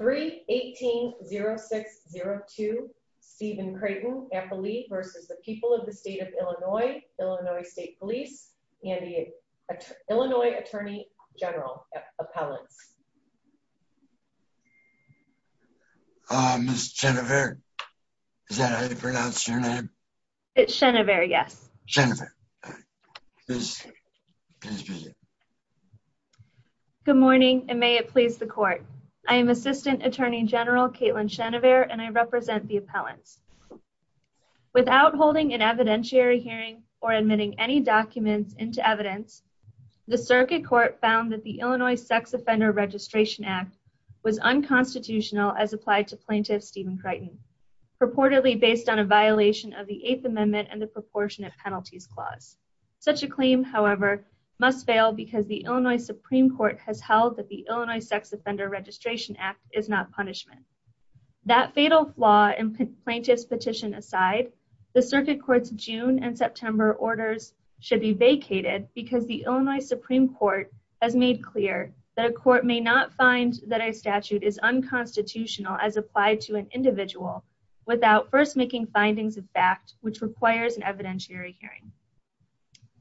3-18-0602 Stephen Creighton v. The People of the State of Illinois, Illinois State Police, and the Illinois Attorney General Appellants. Uh Ms. Chenevert, is that how you pronounce your name? It's Chenevert, yes. Chenevert. Good morning and may it please the court. I am Assistant Attorney General Caitlin Chenevert and I represent the appellants. Without holding an evidentiary hearing or admitting any documents into evidence, the circuit court found that the Illinois Sex Offender Registration Act was unconstitutional as applied to Plaintiff Stephen Creighton, purportedly based on a Such a claim, however, must fail because the Illinois Supreme Court has held that the Illinois Sex Offender Registration Act is not punishment. That fatal flaw and plaintiff's petition aside, the circuit court's June and September orders should be vacated because the Illinois Supreme Court has made clear that a court may not find that a statute is unconstitutional as applied to an individual without first making findings of fact which requires an evidentiary hearing.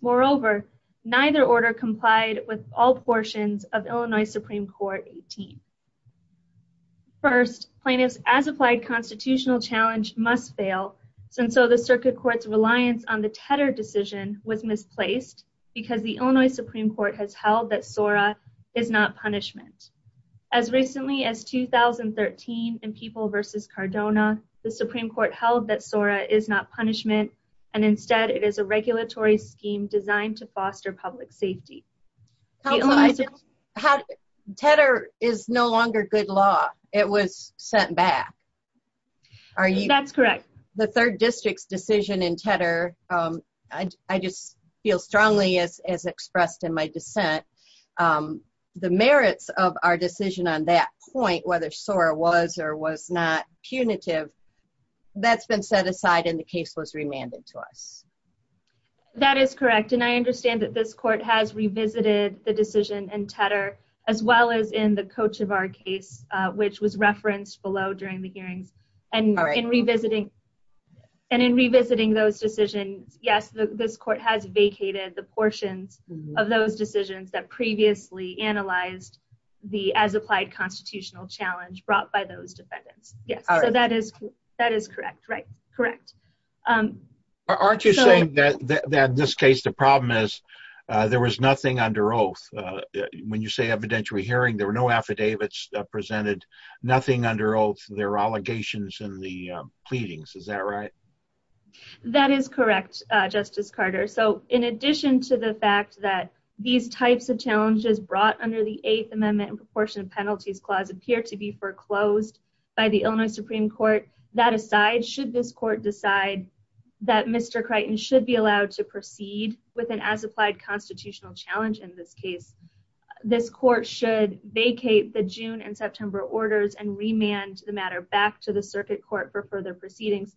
Moreover, neither order complied with all portions of Illinois Supreme Court 18. First, plaintiffs' as-applied constitutional challenge must fail, and so the circuit court's reliance on the Tedder decision was misplaced because the Illinois Supreme Court has held that SORA is not punishment. As recently as 2013 in People v. Cardona, the Supreme Court held that SORA is not punishment, and instead it is a regulatory scheme designed to foster public safety. Tedder is no longer good law. It was sent back. That's correct. The third district's decision in Tedder, I just feel strongly as expressed in my dissent, um, the merits of our decision on that point, whether SORA was or was not punitive, that's been set aside and the case was remanded to us. That is correct, and I understand that this court has revisited the decision in Tedder as well as in the Kochivar case, which was referenced below during the hearings, and in revisiting those decisions, yes, this court has vacated the portions of those decisions that previously analyzed the as-applied constitutional challenge brought by those defendants. Yes, so that is that is correct, right? Correct. Aren't you saying that in this case the problem is there was nothing under oath? When you say evidentiary hearing, there were no affidavits presented, nothing under oath, there were allegations in the pleadings. Is that right? That is correct, Justice Carter. So in addition to the fact that these types of challenges brought under the Eighth Amendment and Proportionate Penalties Clause appear to be foreclosed by the Illinois Supreme Court, that aside, should this court decide that Mr. Crichton should be allowed to proceed with an as-applied constitutional challenge in this case, this court should vacate the June and September orders and remand the matter back to the circuit court for further proceedings,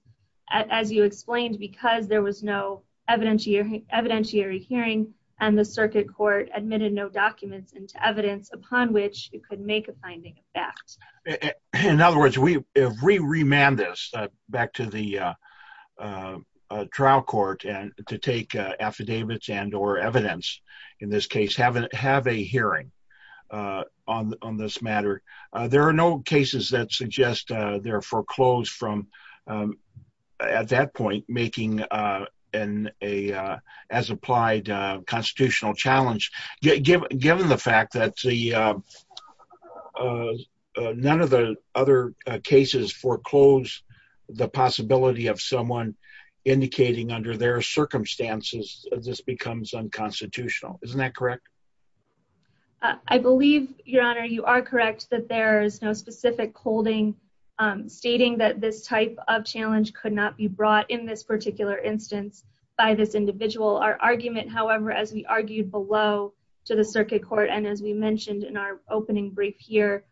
as you explained, because there was no evidentiary hearing and the circuit court admitted no documents into evidence upon which it could make a finding of fact. In other words, if we remand this back to the trial court to take affidavits and or evidence in this case, have a hearing on this matter, there are no cases that suggest they're foreclosed from at that point making an as-applied constitutional challenge, given the fact that none of the other cases foreclose the possibility of someone indicating under their circumstances this becomes unconstitutional. Isn't that correct? I believe, Your Honor, you are correct that there is no specific holding stating that this type of challenge could not be brought in this particular instance by this individual. Our argument, however, as we argued below to the circuit court and as we mentioned in our opening brief here,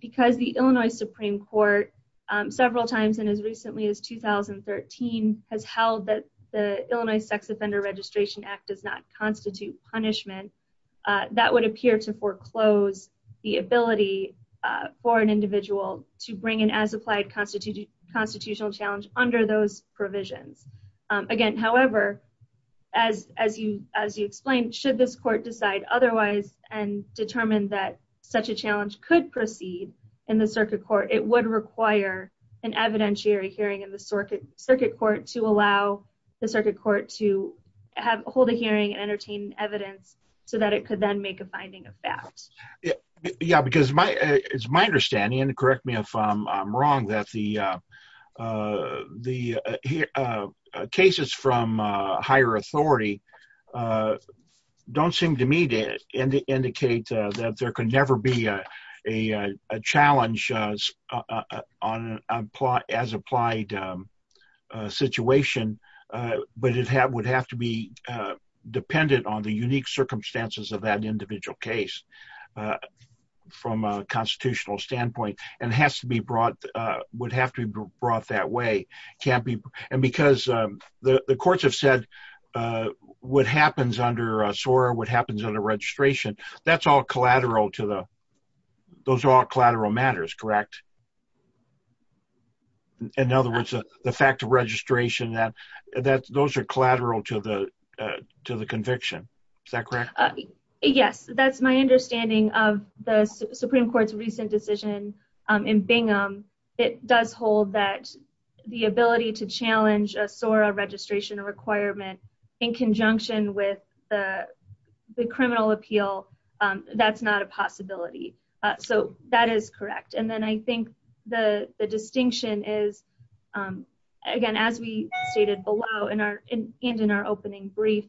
because the Illinois Supreme Court several times and as recently as 2013 has held that the Illinois Sex Offender Registration Act does not constitute punishment, that would appear to foreclose the ability for an individual to bring an as-applied constitutional challenge under those provisions. Again, however, as you explained, should this court decide otherwise and determine that such a challenge could proceed in the circuit court, it would require an evidentiary hearing in circuit court to allow the circuit court to hold a hearing and entertain evidence so that it could then make a finding of that. Yeah, because it's my understanding, and correct me if I'm wrong, that the cases from higher authority don't seem to me to indicate that there could never be a challenge on an as-applied situation, but it would have to be dependent on the unique circumstances of that individual case from a constitutional standpoint and has to be brought, would have to be brought that way. And because the courts have said what happens under a SOAR, what happens under registration, that's all collateral to the, those are all collateral matters, correct? In other words, the fact of registration, that those are collateral to the conviction, is that correct? Yes, that's my understanding of the Supreme Court's recent decision in Bingham. It does hold that the ability to challenge a SOAR registration requirement in conjunction with the criminal appeal, that's not a possibility. So, that is correct. And then I think the distinction is, again, as we stated below and in our opening brief,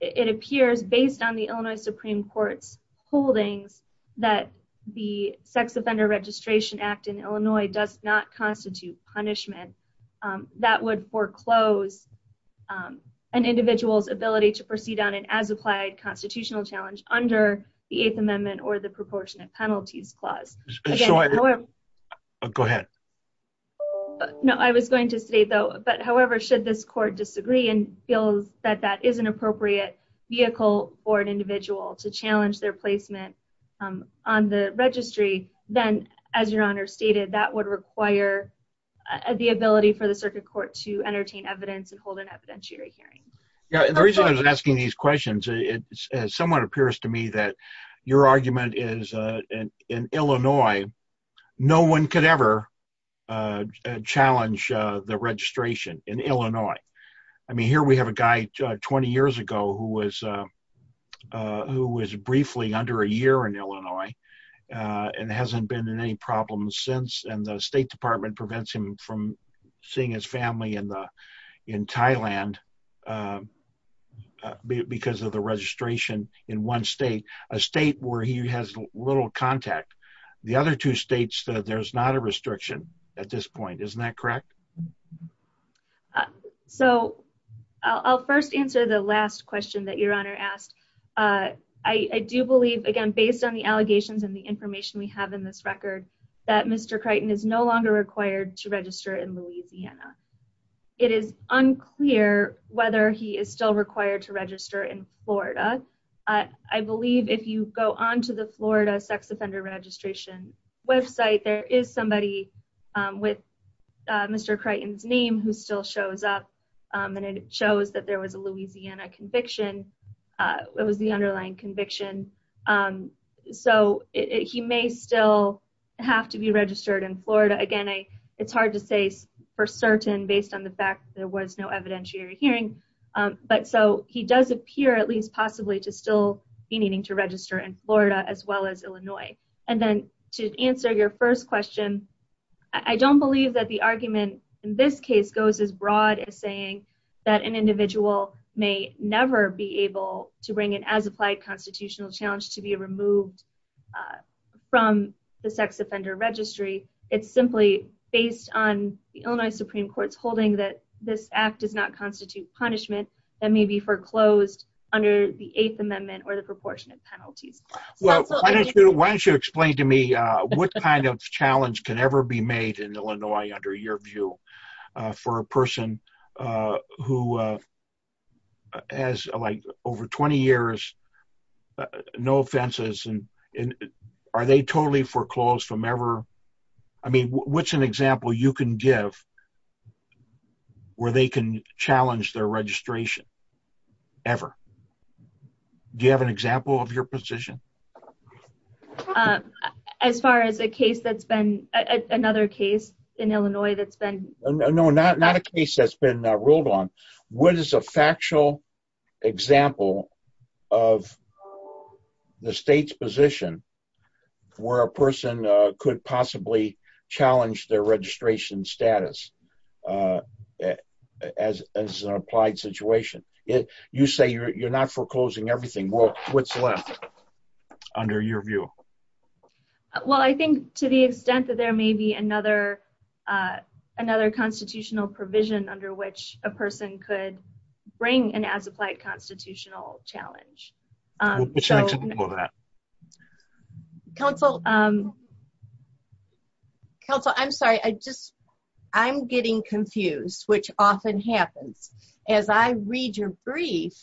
it appears based on the Illinois Supreme Court's holdings that the Sex Offender Registration Act in Illinois does not constitute punishment that would foreclose an individual's ability to proceed on an as-applied constitutional challenge under the Eighth Amendment or the Proportionate Penalties Clause. Go ahead. No, I was going to say though, but however, should this court disagree and feel that that is an appropriate vehicle for an individual to challenge their placement on the registry, then as your Honor stated, that would require the ability for the Circuit Court to entertain evidence and hold an evidentiary hearing. Yeah, the reason I was asking these questions, it somewhat appears to me that your argument is in Illinois, no one could ever challenge the registration in Illinois. I mean, here we have a guy 20 years ago who was briefly under a year in Illinois and hasn't been in any problems since, and the State Department prevents him from seeing his family in Thailand because of the registration in one state, a state where he has little contact. The other two states, there's not a restriction at this point, isn't that correct? Yeah. So I'll first answer the last question that your Honor asked. I do believe, again, based on the allegations and the information we have in this record, that Mr. Creighton is no longer required to register in Louisiana. It is unclear whether he is still required to register in Florida. I believe if you go onto the Florida Sex Offender Registration website, there is somebody with Mr. Creighton's name who still shows up, and it shows that there was a Louisiana conviction. It was the underlying conviction. So he may still have to be registered in Florida. Again, it's hard to say for certain based on the fact that there was no evidentiary hearing, but so he does appear at least possibly to still be needing to register in Florida as well as I don't believe that the argument in this case goes as broad as saying that an individual may never be able to bring an as-applied constitutional challenge to be removed from the sex offender registry. It's simply based on the Illinois Supreme Court's holding that this act does not constitute punishment that may be foreclosed under the Eighth Amendment or the ever be made in Illinois under your view for a person who has like over 20 years, no offenses, and are they totally foreclosed from ever? I mean, what's an example you can give where they can challenge their registration ever? Do you have an example of your position? As far as a case that's been another case in Illinois that's been. No, not a case that's been ruled on. What is a factual example of the state's position where a person could possibly challenge their registration status as an applied situation? You say you're not foreclosing everything. What's left under your view? Well, I think to the extent that there may be another constitutional provision under which a person could bring an as-applied constitutional challenge. Counsel, I'm sorry. I'm getting confused, which often happens. As I read your brief,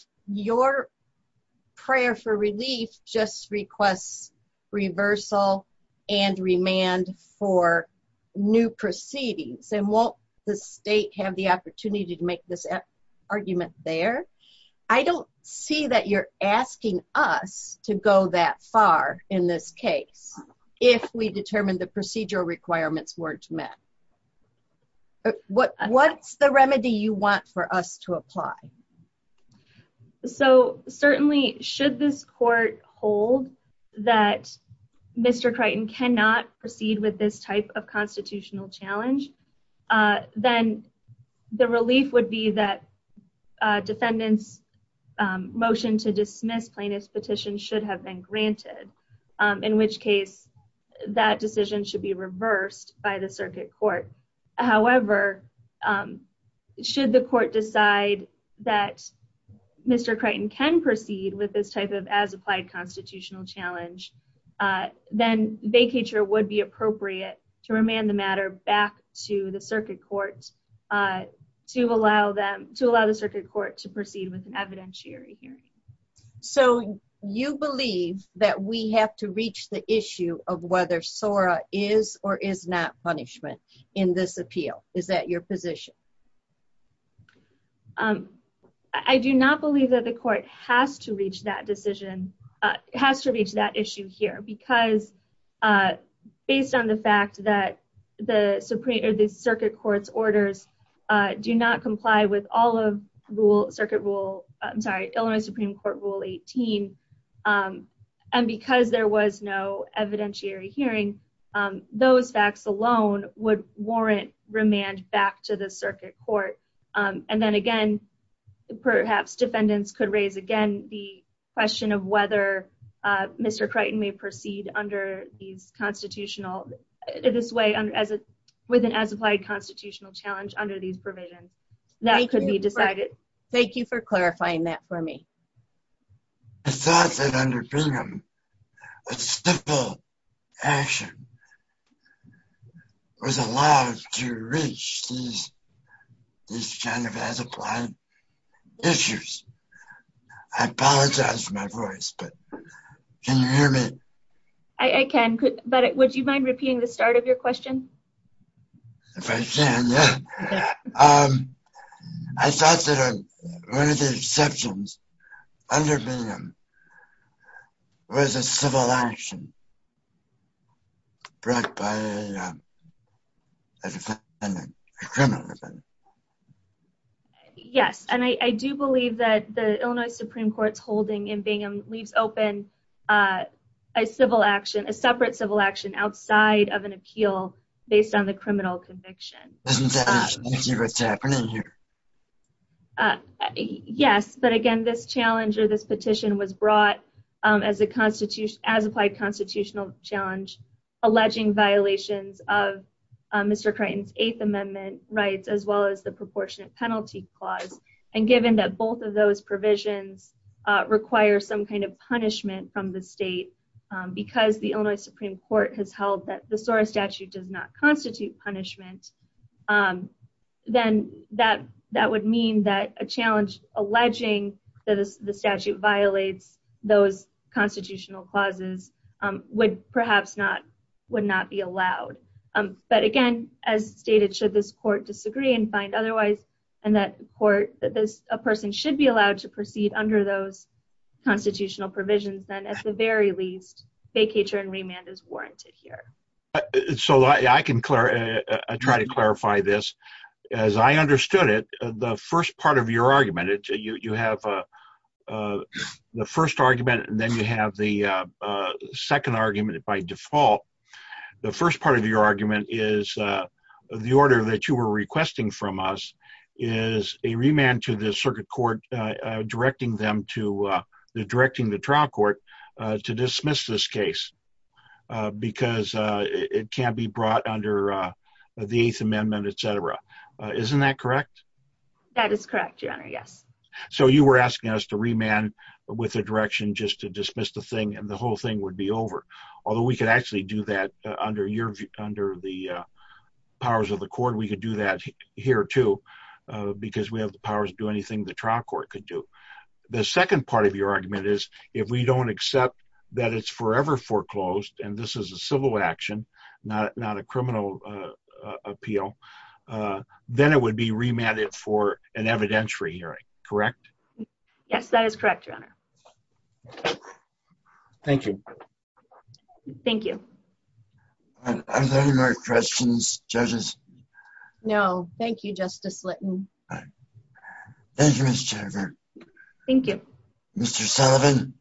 prayer for relief just requests reversal and remand for new proceedings and won't the state have the opportunity to make this argument there? I don't see that you're asking us to go that far in this case if we determine the procedural requirements weren't met. What's the remedy you want for us to apply? So certainly, should this court hold that Mr. Creighton cannot proceed with this type of constitutional challenge, then the relief would be that defendant's motion to dismiss plaintiff's granted, in which case that decision should be reversed by the circuit court. However, should the court decide that Mr. Creighton can proceed with this type of as-applied constitutional challenge, then vacature would be appropriate to remand the matter back to the circuit court to allow them to allow the circuit court to proceed with an evidentiary hearing. So you believe that we have to reach the issue of whether SORA is or is not punishment in this appeal? Is that your position? I do not believe that the court has to reach that decision, has to reach that issue here because based on the fact that the circuit court's orders do not comply with all of circuit rule, I'm sorry, Illinois Supreme Court Rule 18, and because there was no evidentiary hearing, those facts alone would warrant remand back to the circuit court. And then again, perhaps defendants could raise again the question of whether Mr. Creighton may proceed under these constitutional, this way, with an as-applied constitutional challenge under these provisions. That could be decided. Thank you for clarifying that for me. I thought that under Bingham, a simple action was allowed to reach these kind of as-applied issues. I apologize for my voice, but can you hear me? I can, but would you mind repeating the start of your question? If I can, yeah. I thought that one of the exceptions under Bingham was a civil action brought by a defendant, a criminal defendant. Yes, and I do believe that the Illinois Supreme Court's holding in Bingham leaves open a separate civil action outside of an appeal based on the criminal conviction. Yes, but again, this challenge or this petition was brought as an as-applied constitutional challenge alleging violations of Mr. Creighton's Eighth Amendment rights as well as the from the state. Because the Illinois Supreme Court has held that the SORA statute does not constitute punishment, then that would mean that a challenge alleging that the statute violates those constitutional clauses would perhaps not be allowed. But again, as stated, should this court disagree and find otherwise, and that a person should be allowed to proceed under those provisions, then at the very least, vacatur and remand is warranted here. So I can try to clarify this. As I understood it, the first part of your argument, you have the first argument and then you have the second argument by default. The first part of your argument is the order that you were requesting from us is a remand to the circuit court directing the trial court to dismiss this case because it can't be brought under the Eighth Amendment, etc. Isn't that correct? That is correct, your honor, yes. So you were asking us to remand with a direction just to dismiss the thing and the whole thing would be over. Although we could actually do that under the powers of the court. We could do that here too because we have the second part of your argument is if we don't accept that it's forever foreclosed, and this is a civil action, not a criminal appeal, then it would be remanded for an evidentiary hearing, correct? Yes, that is correct, your honor. Thank you. Thank you. Are there any more questions, judges? No, thank you, Justice Litton. Thank you, Ms. Jennifer. Thank you. Mr. Sullivan.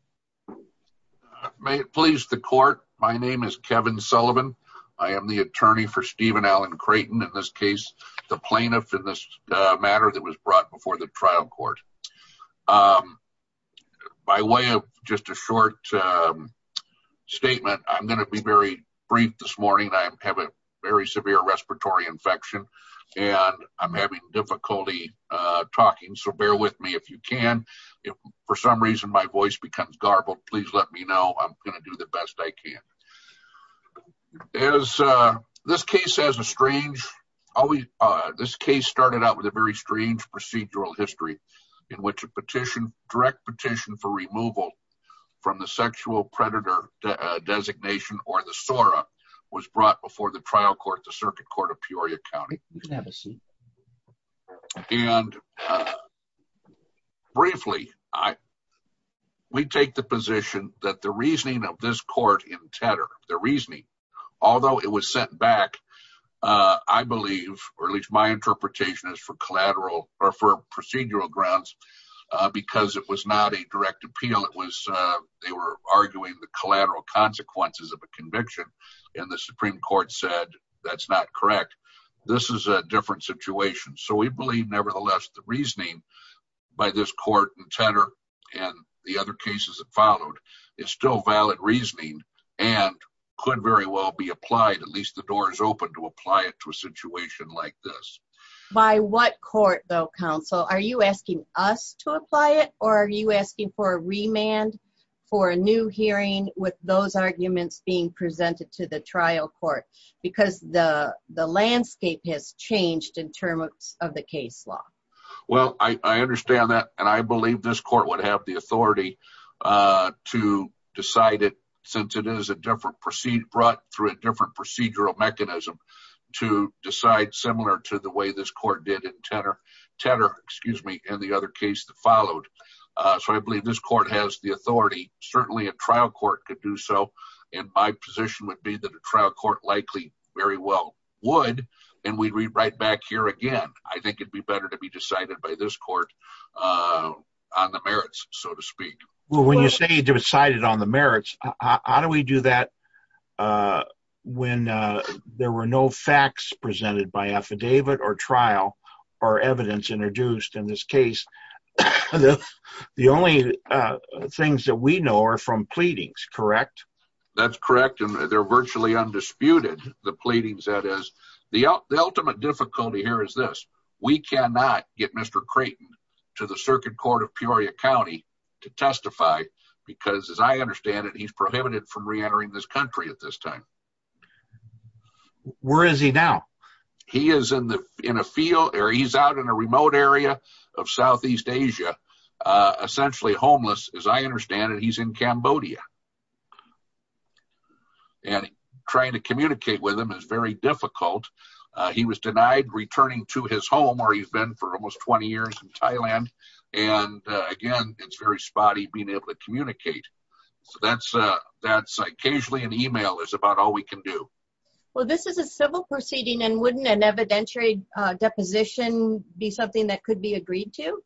May it please the court, my name is Kevin Sullivan. I am the attorney for Stephen Alan Creighton, in this case, the plaintiff in this matter that was brought before the trial court. By way of just a short statement, I'm going to be very brief this morning. I have a very talking, so bear with me if you can. If for some reason my voice becomes garbled, please let me know. I'm going to do the best I can. This case started out with a very strange procedural history in which a petition, direct petition for removal from the sexual predator designation or the SORA was brought before the trial court, the circuit court of Peoria County. You can have a seat. And briefly, we take the position that the reasoning of this court in Tedder, the reasoning, although it was sent back, I believe, or at least my interpretation is for collateral or for procedural grounds, because it was not a direct appeal. It was, they were arguing the collateral consequences of a conviction. And the Supreme Court said, that's not correct. This is a different situation. So we believe nevertheless, the reasoning by this court in Tedder and the other cases that followed is still valid reasoning and could very well be applied. At least the door is open to apply it to a situation like this. By what court though, counsel, are you asking us to apply it or are you asking for a remand for a new hearing with those arguments being in terms of the case law? Well, I understand that. And I believe this court would have the authority to decide it since it is a different proceed brought through a different procedural mechanism to decide similar to the way this court did in Tedder, Tedder, excuse me, and the other case that followed. So I believe this court has the authority, certainly a trial court could do so. And my position would be that a trial court likely very well would. And we read right back here again, I think it'd be better to be decided by this court on the merits, so to speak. Well, when you say decided on the merits, how do we do that? When there were no facts presented by affidavit or trial, or evidence introduced in this case? The only things that we know are from that's correct. And they're virtually undisputed. The pleadings that is, the ultimate difficulty here is this, we cannot get Mr. Creighton to the circuit court of Peoria County to testify. Because as I understand it, he's prohibited from reentering this country at this time. Where is he now? He is in the in a field area. He's out in a remote area of Southeast Asia. Essentially homeless, as I understand it, he's in Cambodia. And trying to communicate with him is very difficult. He was denied returning to his home where he's been for almost 20 years in Thailand. And again, it's very spotty being able to communicate. So that's, that's occasionally an email is about all we can do. Well, this is a civil proceeding and wouldn't an evidentiary deposition be something that could be agreed to,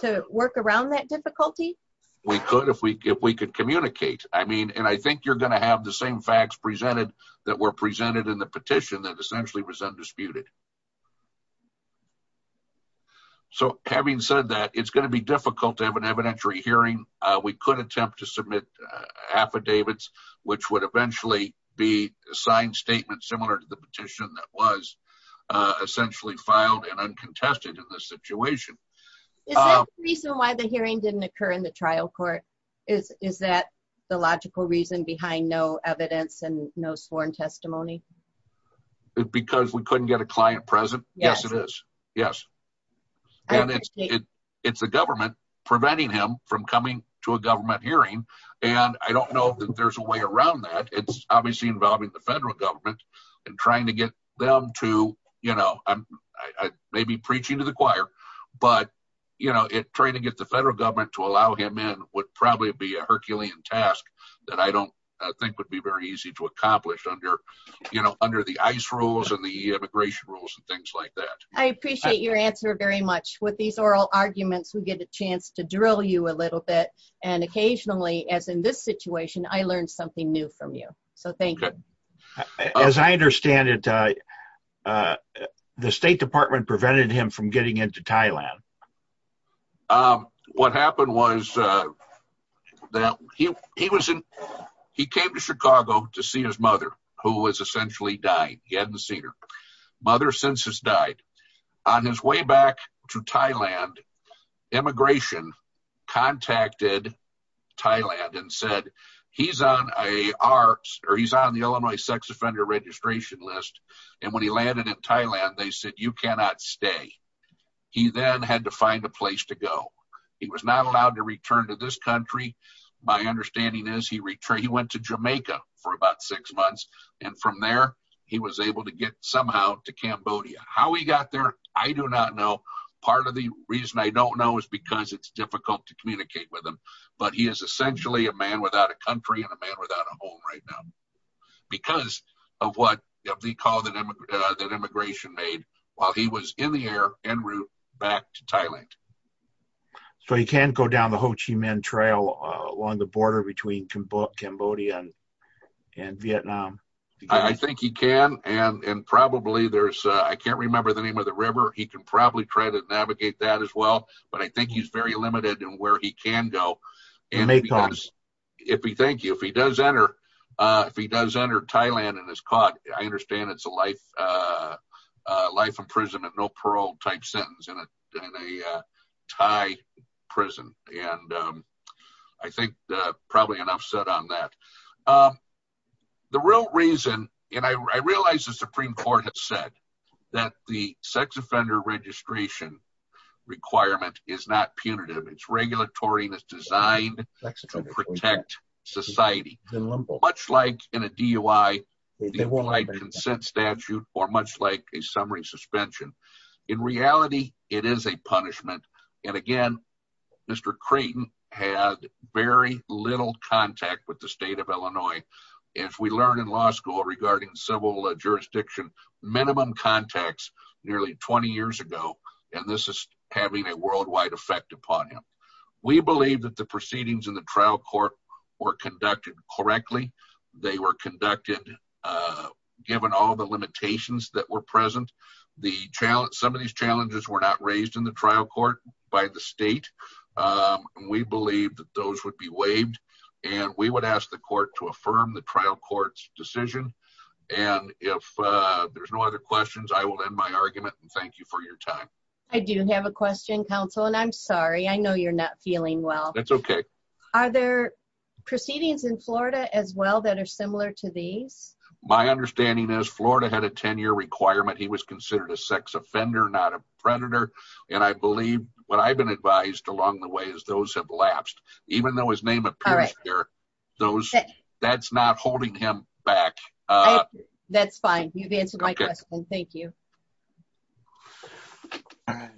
to work around that difficulty? We could if we if we could communicate, I mean, and I think you're going to have the same facts presented that were presented in the petition that essentially was undisputed. So having said that, it's going to be difficult to have an evidentiary hearing, we could attempt to submit affidavits, which would eventually be a signed statement similar to the petition that was essentially filed and uncontested in this situation. Is that the reason why the hearing didn't occur in the trial court? Is that the logical reason behind no evidence and no sworn testimony? Because we couldn't get a client present? Yes, it is. Yes. And it's, it's the government preventing him from coming to a government hearing. And I don't know that there's a way around that. It's obviously involving the federal government. And trying to get them to, you know, I may be preaching to the choir. But, you know, it trying to get the federal government to allow him in would probably be a Herculean task that I don't think would be very easy to accomplish under, you know, under the ice rules and the immigration rules and things like that. I appreciate your answer very much. With these oral arguments, we get a chance to drill you a little bit. And occasionally, as in this situation, I learned something new from you. So thank you. As I understand it, the State Department prevented him from getting into Thailand. What happened was that he was in, he came to Chicago to see his mother, who was essentially dying. He hadn't seen her. Mother since has died. On his way back to Thailand, immigration contacted Thailand and said, he's on the Illinois sex offender registration list. And when he landed in Thailand, they said, you cannot stay. He then had to find a place to go. He was not allowed to return to this country. My understanding is he went to Jamaica for about six months. And from there, he was able to get somehow to Cambodia. How he got there, I do not know. Part of the reason I don't know is because it's difficult to communicate with him. But he is essentially a man without a country and a man without a home right now, because of the call that immigration made while he was in the air en route back to Thailand. So he can go down the Ho Chi Minh Trail along the border between Cambodia and Vietnam? I think he can. And probably there's, I can't remember the name of the river, he can probably try to navigate that as well. But I think he's very limited in where he can go. If he does enter, if he does enter Thailand and is caught, I understand it's a life imprisonment, no parole type sentence in a Thai prison. And I think probably enough said on that. The real reason, and I realized the Supreme Court has said that the sex offender registration requirement is not punitive. It's regulatory and it's designed to protect society. Much like in a DUI, the implied consent statute, or much like a summary suspension. In reality, it is a punishment. And again, Mr. Creighton had very little contact with the state of Illinois. If we learn in law school regarding civil jurisdiction, minimum contacts nearly 20 years ago, and this is having a worldwide effect upon him. We believe that the proceedings in the trial court were conducted correctly. They were conducted, given all the limitations that were some of these challenges were not raised in the trial court by the state. We believe that those would be waived and we would ask the court to affirm the trial court's decision. And if there's no other questions, I will end my argument and thank you for your time. I do have a question counsel, and I'm sorry, I know you're not feeling well. That's okay. Are there proceedings in Florida as well that are similar to these? My understanding is Florida had a 10 year requirement. He was a fender, not a predator. And I believe what I've been advised along the way is those have lapsed, even though his name appears here, those that's not holding him back. That's fine. You've answered my question. Thank you.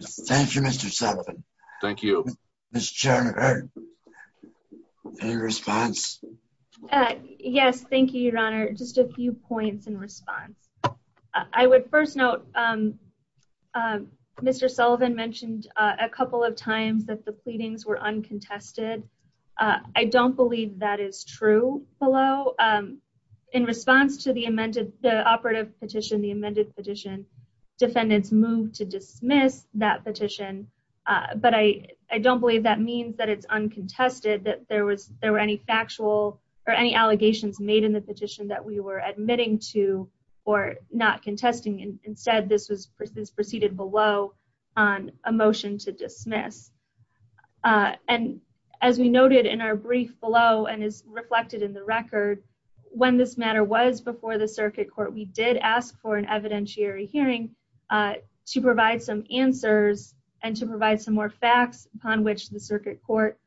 Thank you, Mr. Sullivan. Thank you, Mr. Chairman. Any response? Yes. Thank you, your honor. Just a few points in response. I would first note, Mr. Sullivan mentioned a couple of times that the pleadings were uncontested. I don't believe that is true below. In response to the amended the operative petition, the amended petition, defendants moved to dismiss that petition. But I don't believe that means that it's uncontested that there was there were any factual or any allegations made in the petition that we were admitting to or not contesting. Instead, this was preceded below on a motion to dismiss. And as we noted in our brief below, and is reflected in the record, when this matter was before the circuit court, we did ask for an evidentiary hearing to provide some answers and to provide some more facts upon which the circuit court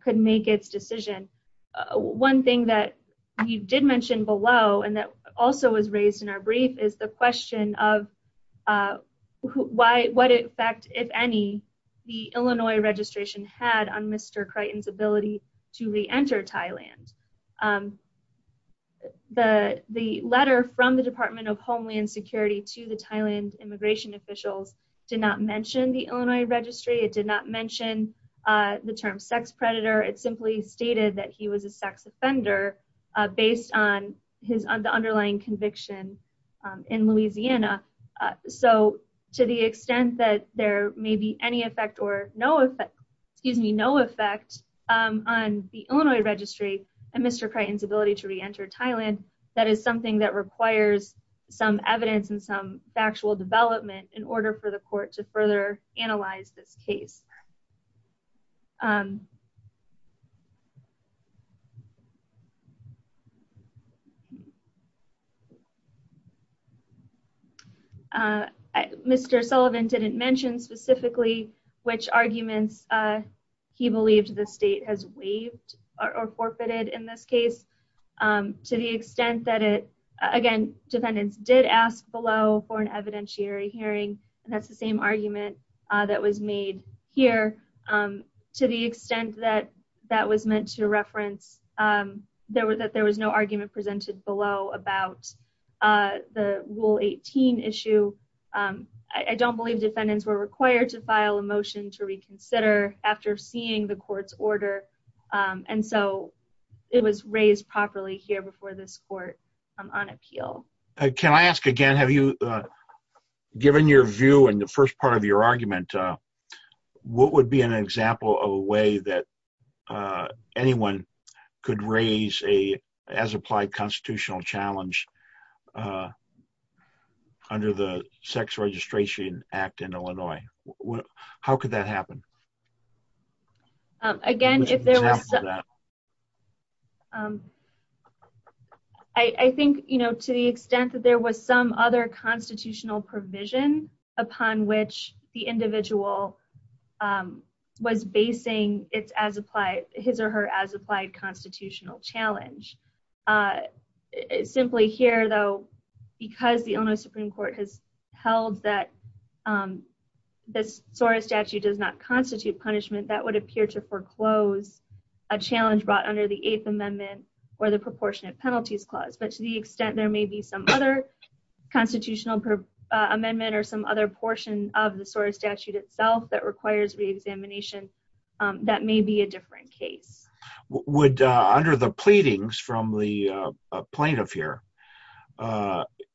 could make its decision. One thing that you did mention below and that also was raised in our brief is the question of why what effect if any, the Illinois registration had on Mr. Crichton's ability to reenter Thailand. The the letter from the Department of Homeland Security to the Thailand immigration officials did not mention the Illinois registry. It did not mention the term sex predator. It simply stated that he was a sex offender, based on his underlying conviction in Louisiana. So to the extent that there may be any effect or no effect, excuse me, no effect on the Illinois registry, and Mr. Crichton's ability to reenter Thailand, that is something that requires some evidence and some factual development in order for the court to further analyze this case. Mr. Sullivan didn't mention specifically which arguments he believed the state has waived or forfeited in this case. To the extent that it, again, defendants did ask below for an evidentiary hearing, and that's the same argument that was made here. To the extent that that was meant to reference that there was no argument presented below about the Rule 18 issue, I don't believe defendants were required to file a motion to reconsider after seeing the court's and so it was raised properly here before this court on appeal. Can I ask again, have you given your view in the first part of your argument, what would be an example of a way that anyone could raise a as applied constitutional challenge under the Sex Registration Act in Illinois? How could that happen? Again, if there was, I think, you know, to the extent that there was some other constitutional provision upon which the individual was basing his or her as applied constitutional challenge. Simply here, though, because the Illinois Supreme Court has held that the SORA statute does not constitute punishment, that would appear to foreclose a challenge brought under the Eighth Amendment or the Proportionate Penalties Clause, but to the extent there may be some other constitutional amendment or some other portion of the SORA statute itself that requires reexamination, that may be a different case. Would, under the pleadings from the plaintiff here,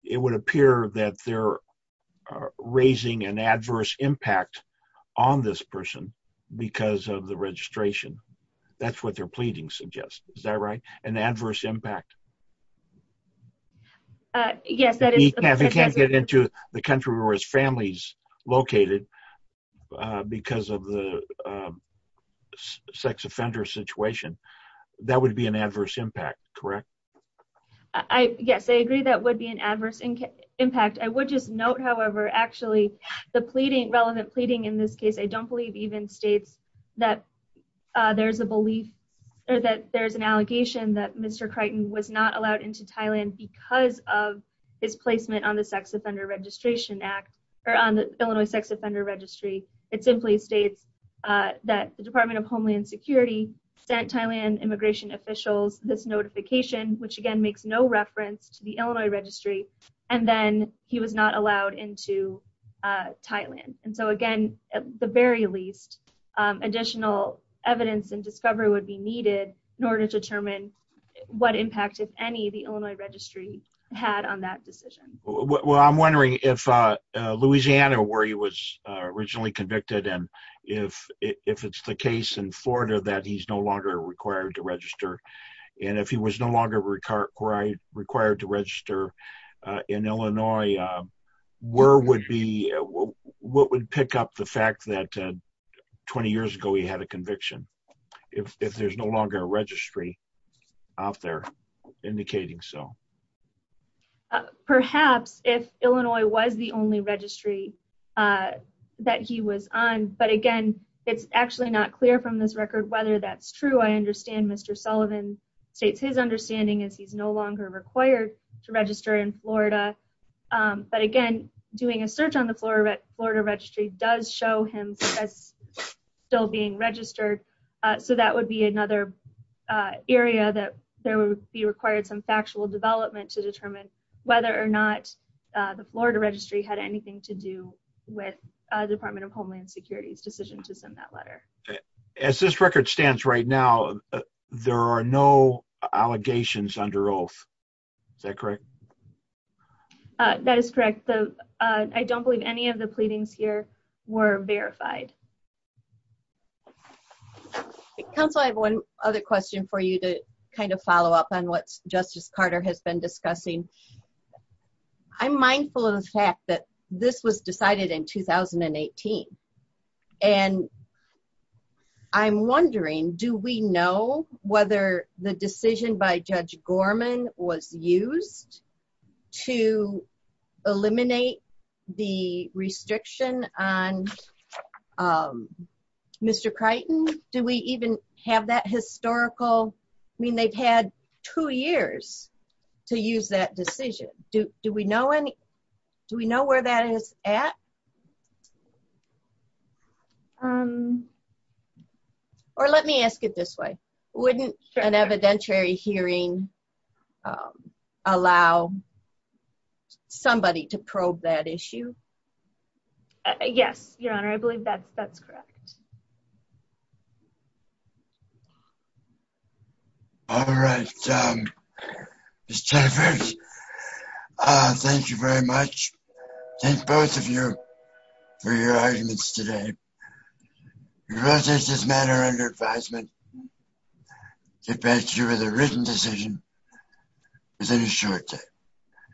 it would appear that they're raising an adverse impact on this person because of the registration. That's what they're pleading suggests. Is that right? An adverse impact? Yes, that is. He can't get into the country where his family's located because of the sex offender situation. That would be an adverse impact, correct? I, yes, I agree that would be an adverse impact. I would just note, however, actually, the pleading, relevant pleading in this case, I don't believe even states that there's a belief or that there's an allegation that Mr. Crichton was not allowed into Thailand because of his placement on the Sex Offender Registration Act or on the Illinois Sex Offender Registry. It simply states that the Department of Homeland Security sent Thailand immigration officials this notification, which again makes no reference to the Illinois Registry, and then he was not allowed into Thailand. Again, at the very least, additional evidence and discovery would be needed in order to determine what impact, if any, the Illinois Registry had on that decision. Well, I'm wondering if Louisiana where he was originally convicted and if it's the case in Florida that he's no longer required to register, and if he was no longer required to register in Illinois, where would be, what would pick up the fact that 20 years ago he had a conviction if there's no longer a registry out there indicating so? Perhaps if Illinois was the only registry that he was on, but again, it's actually not clear from this record whether that's true. I understand Mr. Sullivan states his understanding is he's no longer required to register in Florida, but again, doing a search on the Florida registry does show him as still being registered, so that would be another area that there would be required some actual development to determine whether or not the Florida registry had anything to do with the Department of Homeland Security's decision to send that letter. As this record stands right now, there are no allegations under oath. Is that correct? That is correct. I don't believe any of the pleadings here were verified. Counsel, I have one other question for you to kind of follow up on what Justice Carter has been discussing. I'm mindful of the fact that this was decided in 2018 and I'm wondering, do we know the decision by Judge Gorman was used to eliminate the restriction on Mr. Crichton? Do we even have that historical? I mean, they've had two years to use that decision. Do we know where that is at? Or let me ask it this way. Wouldn't an evidentiary hearing allow somebody to probe that issue? Yes, Your Honor. I believe that's correct. All right. Ms. Tafferty, thank you very much. Thank both of you for your arguments today. We will take this matter under advisement. We'll get back to you with a written decision within a short time.